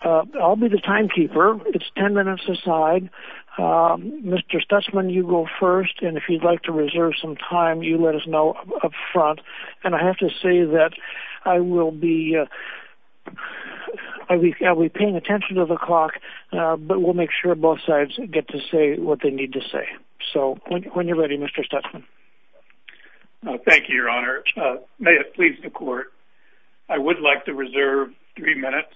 I'll be the timekeeper. It's 10 minutes aside. Mr. Stutzman, you go first, and if you'd like to reserve some time, you let us know up front. And I have to say that I will be paying attention to the clock, but we'll make sure both sides get to say what they need to say. So, when you're ready, Mr. Stutzman. Thank you, Your Honor. May it please the Court, I would like to reserve three minutes.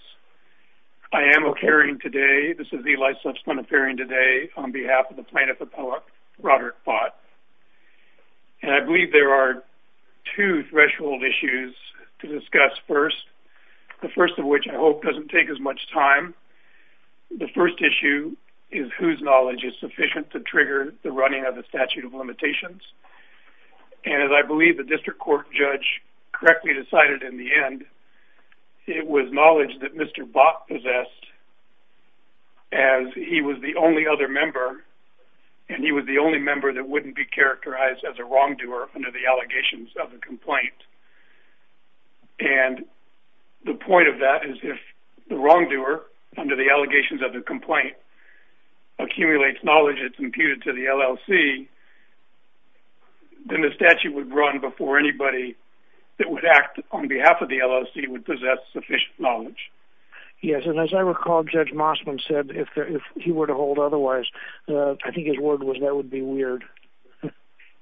I am occurring today, this is Eli Stutzman occurring today, on behalf of the plaintiff appellate, Roderich Bott. And I believe there are two threshold issues to discuss first, the first of which I hope doesn't take as much time. The first issue is whose knowledge is sufficient to trigger the running of the statute of limitations. And as I believe the district court judge correctly decided in the end, it was knowledge that Mr. Bott possessed, as he was the only other member, and he was the only member that wouldn't be characterized as a wrongdoer under the allegations of the complaint. And the point of that is if the wrongdoer, under the allegations of the complaint, accumulates knowledge that's imputed to the LLC, then the statute would run before anybody that would act on behalf of the LLC would possess sufficient knowledge. Yes, and as I recall, Judge Mossman said if he were to hold otherwise, I think his word was that would be weird.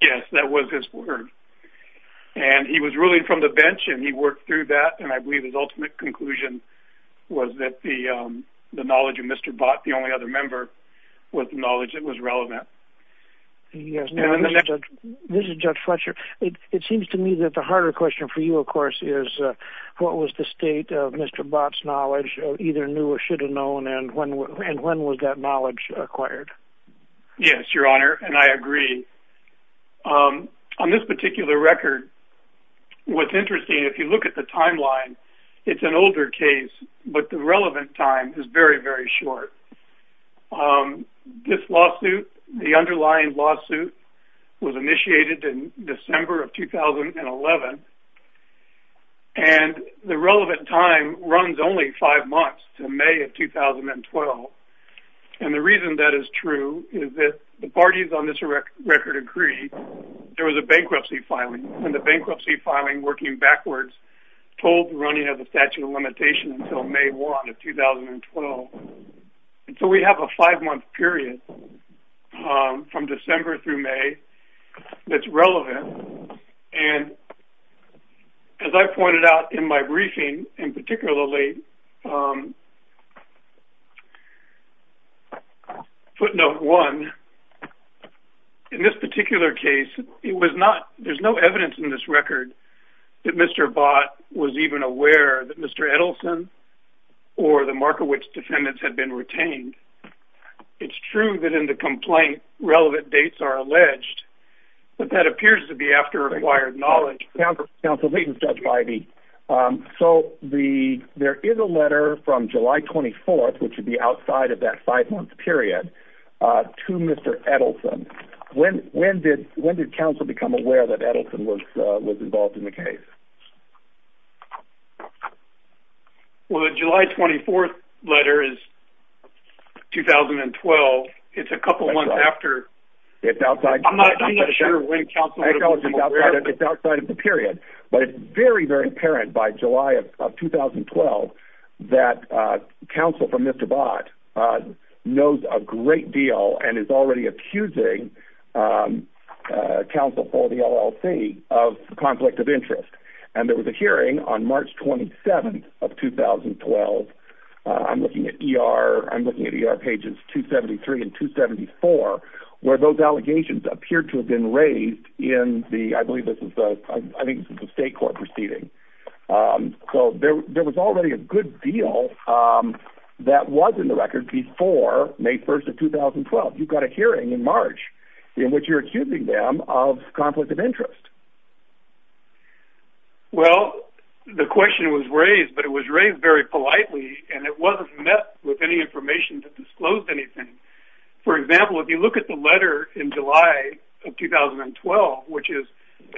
Yes, that was his word. And he was ruling from the bench, and he worked through that, and I believe his ultimate conclusion was that the knowledge of Mr. Bott, the only other member, was the knowledge that was relevant. Yes, now Mr. Judge, this is Judge Fletcher. It seems to me that the harder question for you, of course, is what was the state of Mr. Bott's knowledge, either knew or should have known, and when was that knowledge acquired? Yes, Your Honor, and I agree. On this particular record, what's interesting, if you look at the timeline, it's an older case, but the relevant time is very, very short. This lawsuit, the underlying lawsuit, was initiated in December of 2011, and the relevant time runs only five months to May of 2012. And the reason that is true is that the parties on this record agree there was a bankruptcy filing, and the bankruptcy filing working backwards told the running of the statute of limitations until May 1 of 2012. And so we have a five-month period from December through May that's relevant, and as I pointed out in my briefing, and particularly footnote one, in this particular case, there's no evidence in this record that Mr. Bott was even aware that Mr. Edelson or the Markowitz defendants had been retained. It's true that in the complaint, relevant dates are alleged, but that appears to be after acquired knowledge. Counsel, this is Judge Ivey. So there is a letter from July 24th, which would be outside of that five-month period, to Mr. Edelson. When did counsel become aware that Edelson was involved in the case? Well, the July 24th letter is 2012. It's a couple months after. I'm not being sure when counsel would have been aware. It's outside of the period, but it's very, very apparent by July of 2012 that counsel for Mr. Bott knows a great deal and is already accusing counsel for the LLC of conflict of interest. And there was a hearing on March 27th of 2012. I'm looking at ER pages 273 and 274, where those allegations appear to have been raised in the, I believe this is the State Court proceeding. So there was already a good deal that was in the record before May 1st of 2012. You've got a hearing in March in which you're accusing them of conflict of interest. Well, the question was raised, but it was raised very politely, and it wasn't met with any information that disclosed anything. For example, if you look at the letter in July of 2012, which is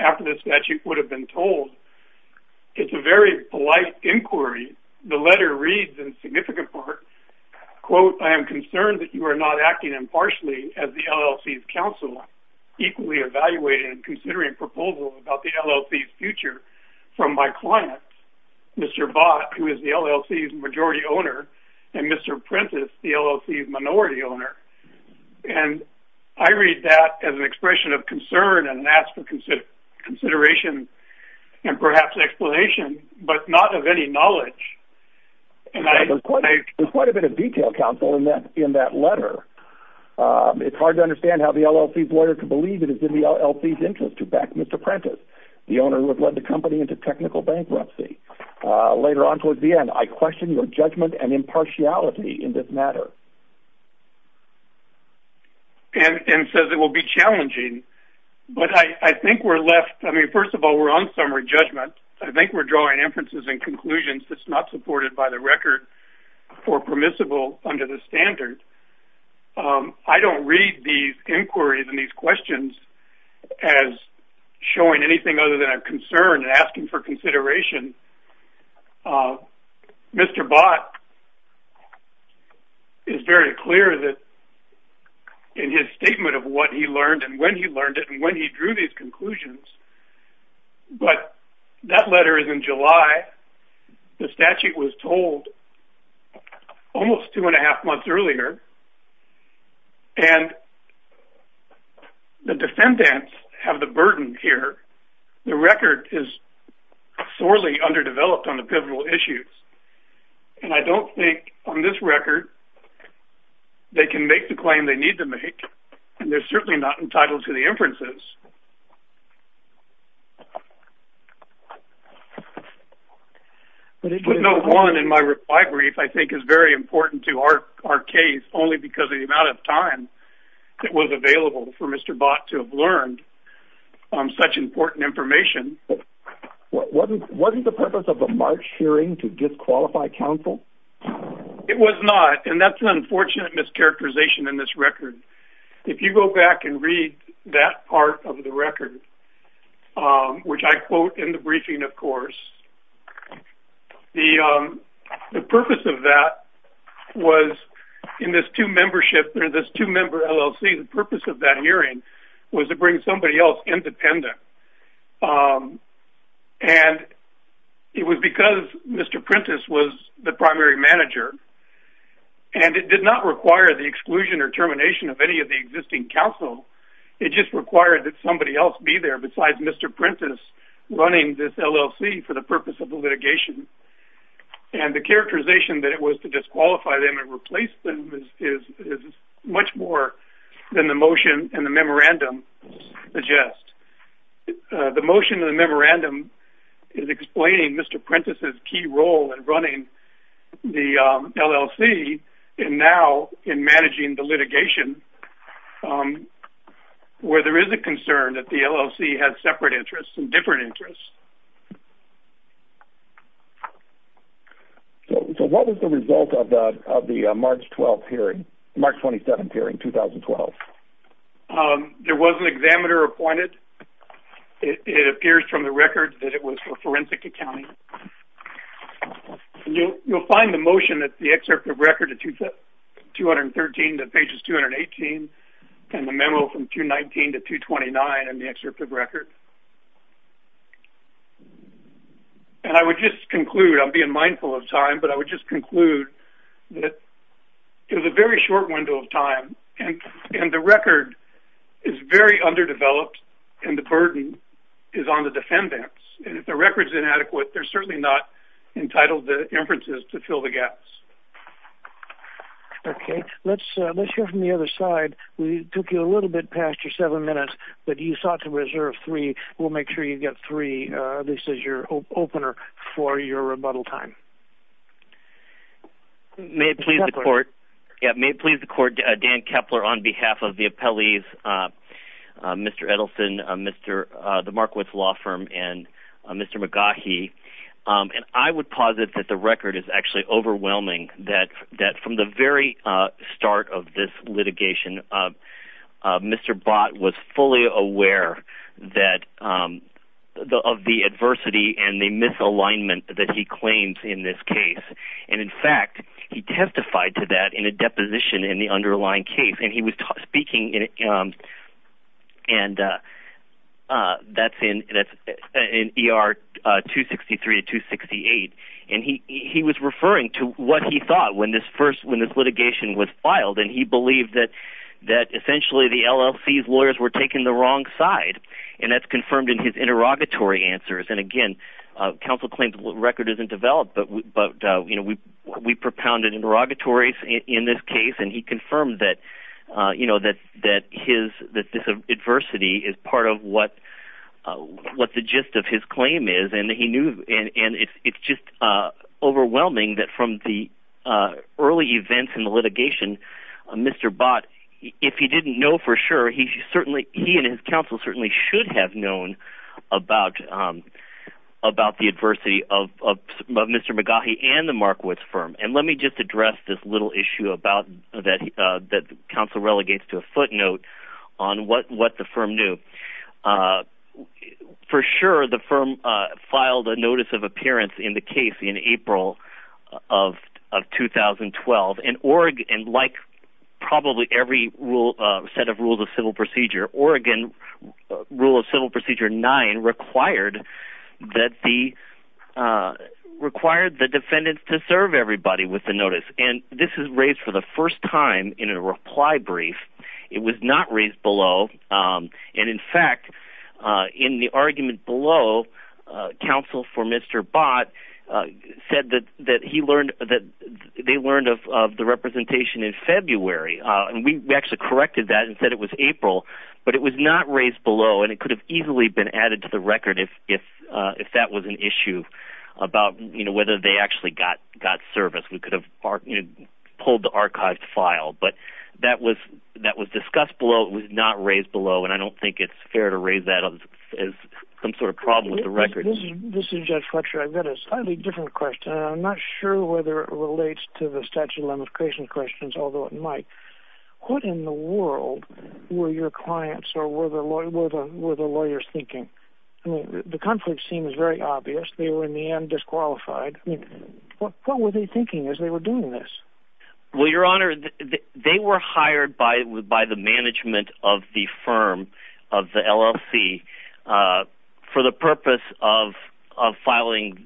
after the statute would have been told, it's a very polite inquiry. The letter reads in significant part, quote, I am concerned that you are not acting impartially as the LLC's counsel, equally evaluating and considering proposals about the LLC's future from my client, Mr. Bott, who is the LLC's majority owner, and Mr. Prentice, the LLC's minority owner. And I read that as an expression of concern and ask for consideration and perhaps explanation, but not of any knowledge. There's quite a bit of detail, counsel, in that letter. It's hard to understand how the LLC's lawyer could believe it is in the LLC's interest to back Mr. Prentice, the owner who had led the company into technical bankruptcy. Later on towards the end, I question your judgment and impartiality in this matter. And says it will be challenging, but I think we're left, I mean, first of all, we're on summary judgment. I think we're drawing inferences and conclusions that's not supported by the record or permissible under the standard. I don't read these inquiries and these questions as showing anything other than a concern and asking for consideration. Mr. Bott is very clear that in his statement of what he learned and when he learned it and when he drew these conclusions, but that letter is in July. The statute was told almost two and a half months earlier, and the defendants have the burden here. The record is sorely underdeveloped on the pivotal issues. And I don't think on this record they can make the claim they need to make, and they're certainly not entitled to the inferences. But note one in my brief I think is very important to our case only because of the amount of time that was available for Mr. Bott to have learned such important information. Wasn't the purpose of the March hearing to disqualify counsel? It was not, and that's an unfortunate mischaracterization in this record. If you go back and read that part of the record, which I quote in the briefing, of course, the purpose of that was in this two-member LLC, the purpose of that hearing was to bring somebody else independent. And it was because Mr. Prentiss was the primary manager, and it did not require the exclusion or termination of any of the existing counsel. It just required that somebody else be there besides Mr. Prentiss running this LLC for the purpose of the litigation. And the characterization that it was to disqualify them and replace them is much more than the motion and the memorandum suggest. The motion and the memorandum is explaining Mr. Prentiss's key role in running the LLC and now in managing the litigation where there is a concern that the LLC has separate interests and different interests. So what was the result of the March 12th hearing, March 27th hearing, 2012? There was an examiner appointed. It appears from the record that it was for forensic accounting. You'll find the motion at the excerpt of record at 213 to pages 218 and the memo from 219 to 229 in the excerpt of record. And I would just conclude, I'm being mindful of time, but I would just conclude that it was a very short window of time. And the record is very underdeveloped and the burden is on the defendants. And if the record's inadequate, they're certainly not entitled to inferences to fill the gaps. Okay. Let's hear from the other side. We took you a little bit past your seven minutes, but you sought to reserve three. We'll make sure you get three. This is your opener for your rebuttal time. May it please the court, Dan Kepler, on behalf of the appellees, Mr. Edelson, the Markowitz Law Firm, and Mr. McGaughy, I would posit that the record is actually overwhelming, that from the very start of this litigation, Mr. Bott was fully aware of the adversity and the misalignment that he claims in this case. And in fact, he testified to that in a deposition in the underlying case. And he was speaking in ER 263 to 268, and he was referring to what he thought when this litigation was filed. And he believed that essentially the LLC's lawyers were taking the wrong side. And that's confirmed in his interrogatory answers. And again, counsel claims the record isn't developed, but we propounded interrogatories in this case. And he confirmed that this adversity is part of what the gist of his claim is. And it's just overwhelming that from the early events in the litigation, Mr. Bott, if he didn't know for sure, he and his counsel certainly should have known about the adversity of Mr. McGaughy and the Markowitz firm. And let me just address this little issue that counsel relegates to a footnote on what the firm knew. For sure, the firm filed a notice of appearance in the case in April of 2012. And like probably every set of rules of civil procedure, Oregon Rule of Civil Procedure 9 required the defendants to serve everybody with the notice. And this is raised for the first time in a reply brief. It was not raised below. And in fact, in the argument below, counsel for Mr. Bott said that they learned of the representation in February. And we actually corrected that and said it was April. But it was not raised below, and it could have easily been added to the record if that was an issue about whether they actually got service. We could have pulled the archived file. But that was discussed below. It was not raised below, and I don't think it's fair to raise that as some sort of problem with the record. This is Jeff Fletcher. I've got a slightly different question. I'm not sure whether it relates to the statute of limitations questions, although it might. What in the world were your clients or were the lawyers thinking? The conflict seems very obvious. They were in the end disqualified. What were they thinking as they were doing this? Well, Your Honor, they were hired by the management of the firm, of the LLC, for the purpose of filing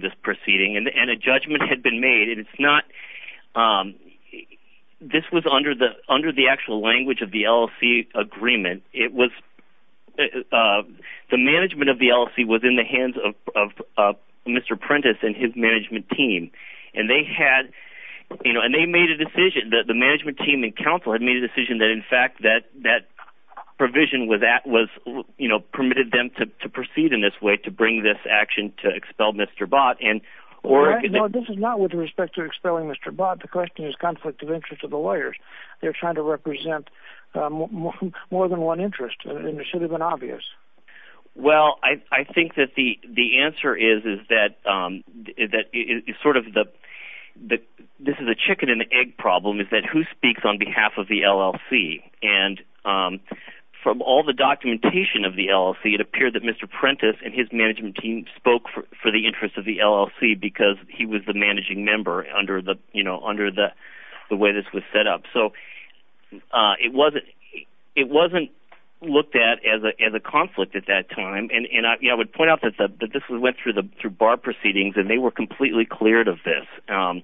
this proceeding. And a judgment had been made. This was under the actual language of the LLC agreement. The management of the LLC was in the hands of Mr. Prentice and his management team. And the management team and counsel had made the decision that that provision permitted them to proceed in this way, to bring this action to expel Mr. Bott. No, this is not with respect to expelling Mr. Bott. The question is the conflict of interest of the lawyers. They're trying to represent more than one interest, and it should have been obvious. Well, I think that the answer is that this is a chicken-and-egg problem. It's that who speaks on behalf of the LLC? And from all the documentation of the LLC, it appeared that Mr. Prentice and his management team spoke for the interest of the LLC because he was the managing member under the way this was set up. So it wasn't looked at as a conflict at that time. And I would point out that this went through bar proceedings, and they were completely cleared of this. And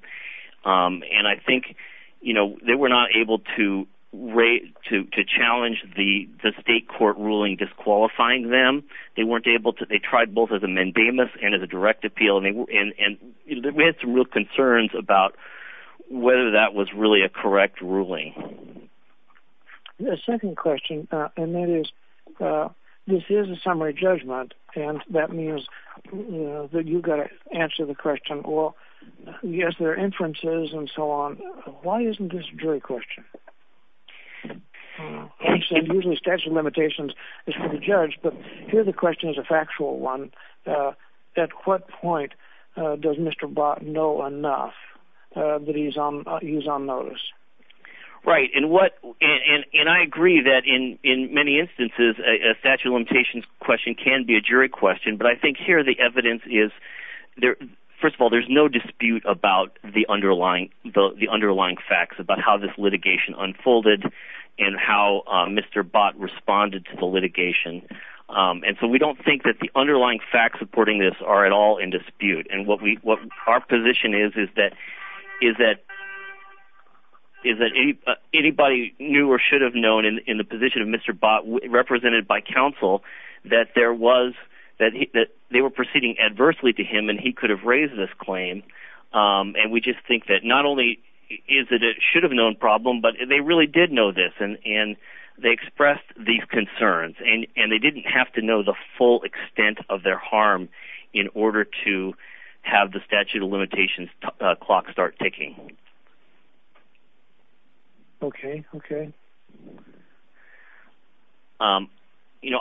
I think they were not able to challenge the state court ruling disqualifying them. They tried both as a mandamus and as a direct appeal. And we had some real concerns about whether that was really a correct ruling. The second question, and that is, this is a summary judgment, and that means that you've got to answer the question. Well, yes, there are inferences and so on. Why isn't this a jury question? As I said, usually statute of limitations is for the judge, but here the question is a factual one. At what point does Mr. Bott know enough that he's on notice? Right, and I agree that in many instances a statute of limitations question can be a jury question, but I think here the evidence is, first of all, there's no dispute about the underlying facts, about how this litigation unfolded and how Mr. Bott responded to the litigation. And so we don't think that the underlying facts supporting this are at all in dispute. And what our position is, is that anybody knew or should have known in the position of Mr. Bott, represented by counsel, that they were proceeding adversely to him, and he could have raised this claim. And we just think that not only is it a should-have-known problem, but they really did know this, and they expressed these concerns, and they didn't have to know the full extent of their harm in order to have the statute of limitations clock start ticking. Okay, okay.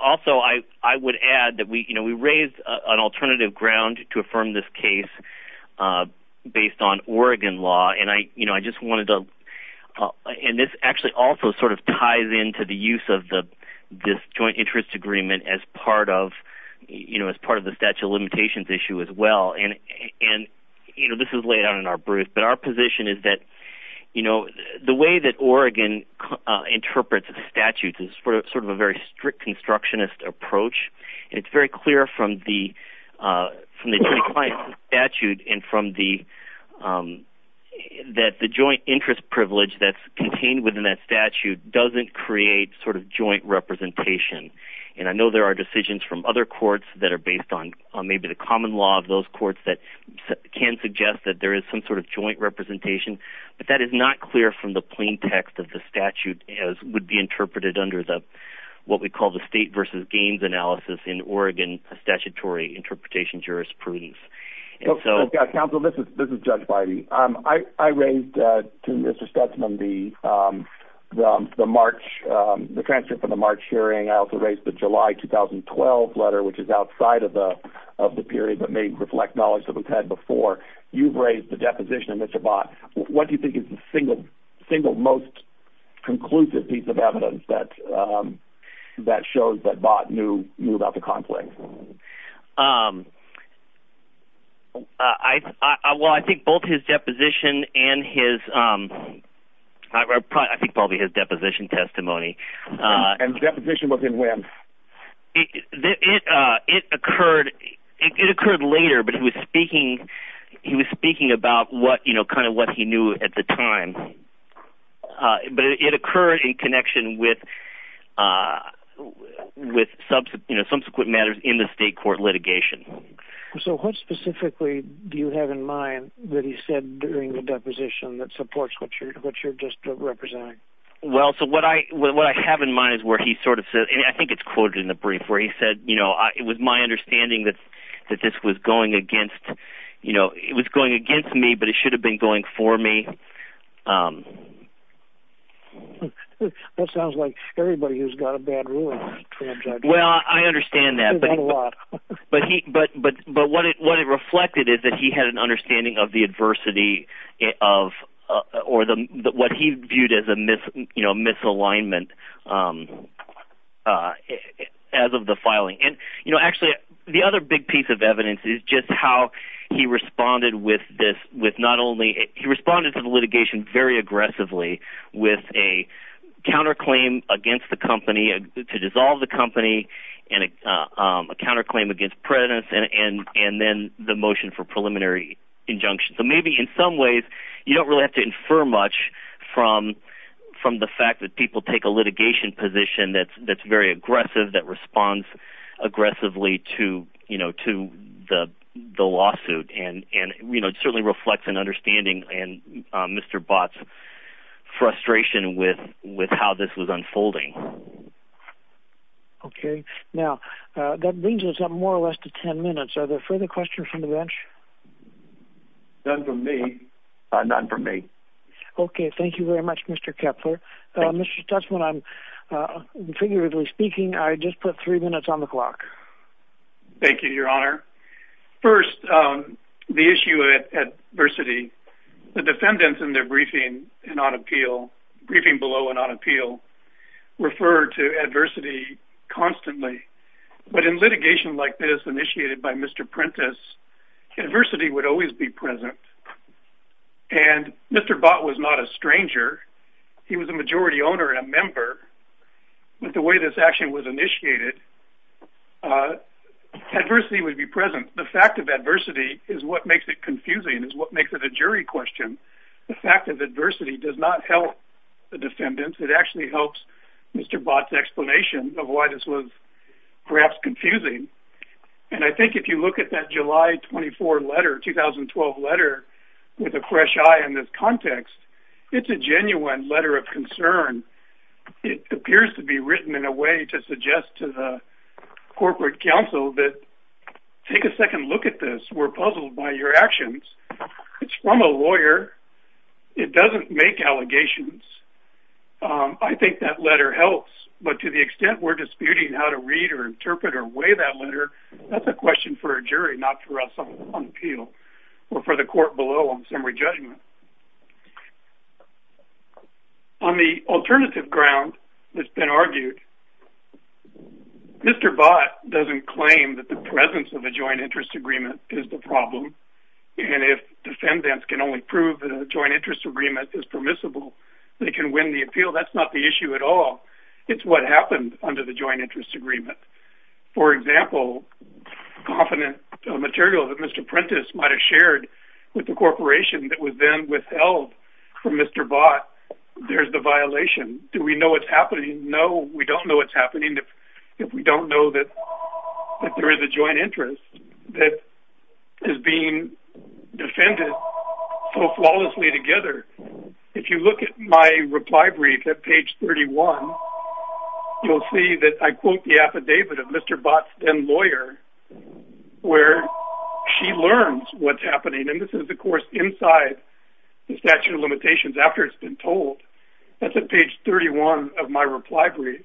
Also, I would add that we raised an alternative ground to affirm this case based on Oregon law, and I just wanted to – and this actually also sort of ties into the use of this joint interest agreement as part of the statute of limitations issue as well. And this is laid out in our brief, but our position is that the way that Oregon interprets a statute is sort of a very strict constructionist approach. It's very clear from the Joint Client Statute and from the – that the joint interest privilege that's contained within that statute doesn't create sort of joint representation. And I know there are decisions from other courts that are based on maybe the common law of those courts that can suggest that there is some sort of joint representation, but that is not clear from the plain text of the statute as would be interpreted under what we call the state versus gains analysis in Oregon statutory interpretation jurisprudence. So, counsel, this is Judge Bidey. I raised to Mr. Stetson the March – the transcript of the March hearing. I also raised the July 2012 letter, which is outside of the period but may reflect knowledge that we've had before. You've raised the deposition of Mr. Bott. What do you think is the single most conclusive piece of evidence that shows that Bott knew about the conflict? Well, I think both his deposition and his – I think probably his deposition testimony. And deposition was in when? It occurred later, but he was speaking about kind of what he knew at the time. But it occurred in connection with subsequent matters in the state court litigation. So what specifically do you have in mind that he said during the deposition that supports what you're just representing? Well, so what I have in mind is where he sort of said – and I think it's quoted in the brief where he said, you know, it was my understanding that this was going against, you know, it was going against me, but it should have been going for me. That sounds like everybody who's got a bad ruling is a trans-judge. Well, I understand that. But what it reflected is that he had an understanding of the adversity of – or what he viewed as a misalignment as of the filing. And actually, the other big piece of evidence is just how he responded with not only – he responded to the litigation very aggressively with a counterclaim against the company, to dissolve the company, and a counterclaim against President, and then the motion for preliminary injunction. So maybe in some ways you don't really have to infer much from the fact that people take a litigation position that's very aggressive, that responds aggressively to, you know, to the lawsuit. And, you know, it certainly reflects an understanding in Mr. Bott's frustration with how this was unfolding. Okay. Now, that brings us up more or less to ten minutes. Are there further questions from the bench? None from me. None from me. Okay. Thank you very much, Mr. Kepler. Mr. Tuchman, figuratively speaking, I just put three minutes on the clock. Thank you, Your Honor. First, the issue of adversity. The defendants in their briefing and on appeal – briefing below and on appeal – refer to adversity constantly. But in litigation like this initiated by Mr. Prentiss, adversity would always be present. And Mr. Bott was not a stranger. He was a majority owner and a member. But the way this action was initiated, adversity would be present. The fact of adversity is what makes it confusing, is what makes it a jury question. The fact of adversity does not help the defendants. It actually helps Mr. Bott's explanation of why this was perhaps confusing. And I think if you look at that July 24 letter, 2012 letter, with a fresh eye in this context, it's a genuine letter of concern. It appears to be written in a way to suggest to the corporate counsel that take a second look at this. We're puzzled by your actions. It's from a lawyer. It doesn't make allegations. I think that letter helps. But to the extent we're disputing how to read or interpret or weigh that letter, that's a question for a jury, not for us on appeal or for the court below on summary judgment. On the alternative ground that's been argued, Mr. Bott doesn't claim that the presence of a joint interest agreement is the problem. And if defendants can only prove that a joint interest agreement is permissible, they can win the appeal. That's not the issue at all. It's what happened under the joint interest agreement. For example, confident material that Mr. Prentice might have shared with the corporation that was then withheld from Mr. Bott, there's the violation. Do we know what's happening? No, we don't know what's happening. If we don't know that there is a joint interest that is being defended so flawlessly together, if you look at my reply brief at page 31, you'll see that I quote the affidavit of Mr. Bott's then lawyer, where she learns what's happening. And this is, of course, inside the statute of limitations after it's been told. That's at page 31 of my reply brief.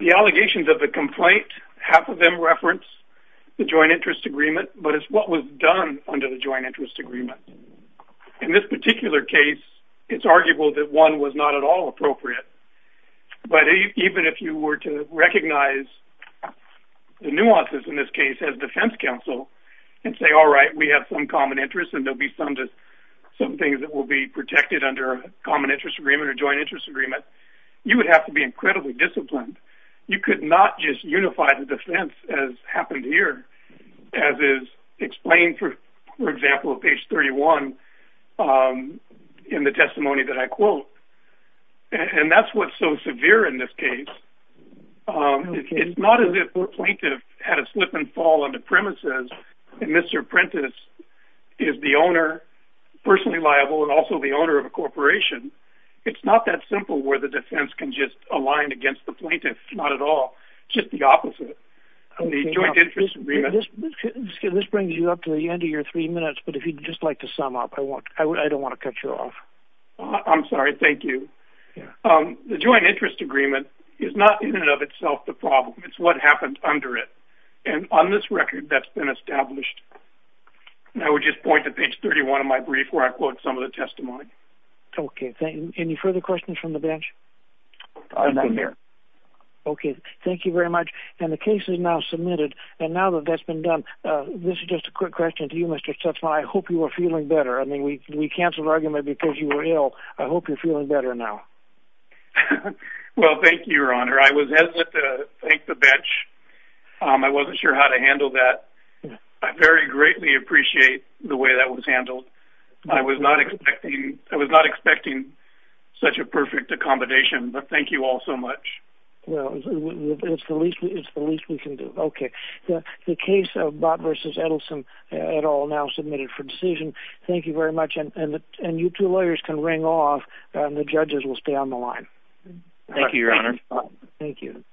The allegations of the complaint, half of them reference the joint interest agreement, but it's what was done under the joint interest agreement. In this particular case, it's arguable that one was not at all appropriate. But even if you were to recognize the nuances in this case as defense counsel and say, all right, we have some common interests, and there'll be some things that will be protected under a common interest agreement or joint interest agreement, you would have to be incredibly disciplined. You could not just unify the defense as happened here, as is explained, for example, at page 31 in the testimony that I quote. And that's what's so severe in this case. It's not as if the plaintiff had a slip and fall on the premises, and Mr. Prentiss is the owner, personally liable, and also the owner of a corporation. It's not that simple where the defense can just align against the plaintiff, not at all. It's just the opposite of the joint interest agreement. This brings you up to the end of your three minutes, but if you'd just like to sum up, I don't want to cut you off. I'm sorry. Thank you. The joint interest agreement is not in and of itself the problem. It's what happened under it. And on this record, that's been established. And I would just point to page 31 of my brief where I quote some of the testimony. Okay. Thank you. Any further questions from the bench? Not here. Okay. Thank you very much. And the case is now submitted, and now that that's been done, this is just a quick question to you, Mr. Chutzman. I hope you are feeling better. I thought you were ill. I hope you're feeling better now. Well, thank you, Your Honor. I was hesitant to thank the bench. I wasn't sure how to handle that. I very greatly appreciate the way that was handled. I was not expecting such a perfect accommodation, but thank you all so much. Well, it's the least we can do. Okay. The case of Bott v. Edelson, et al., now submitted for decision. Thank you very much. And you two lawyers can ring off, and the judges will stay on the line. Thank you, Your Honor. Thank you.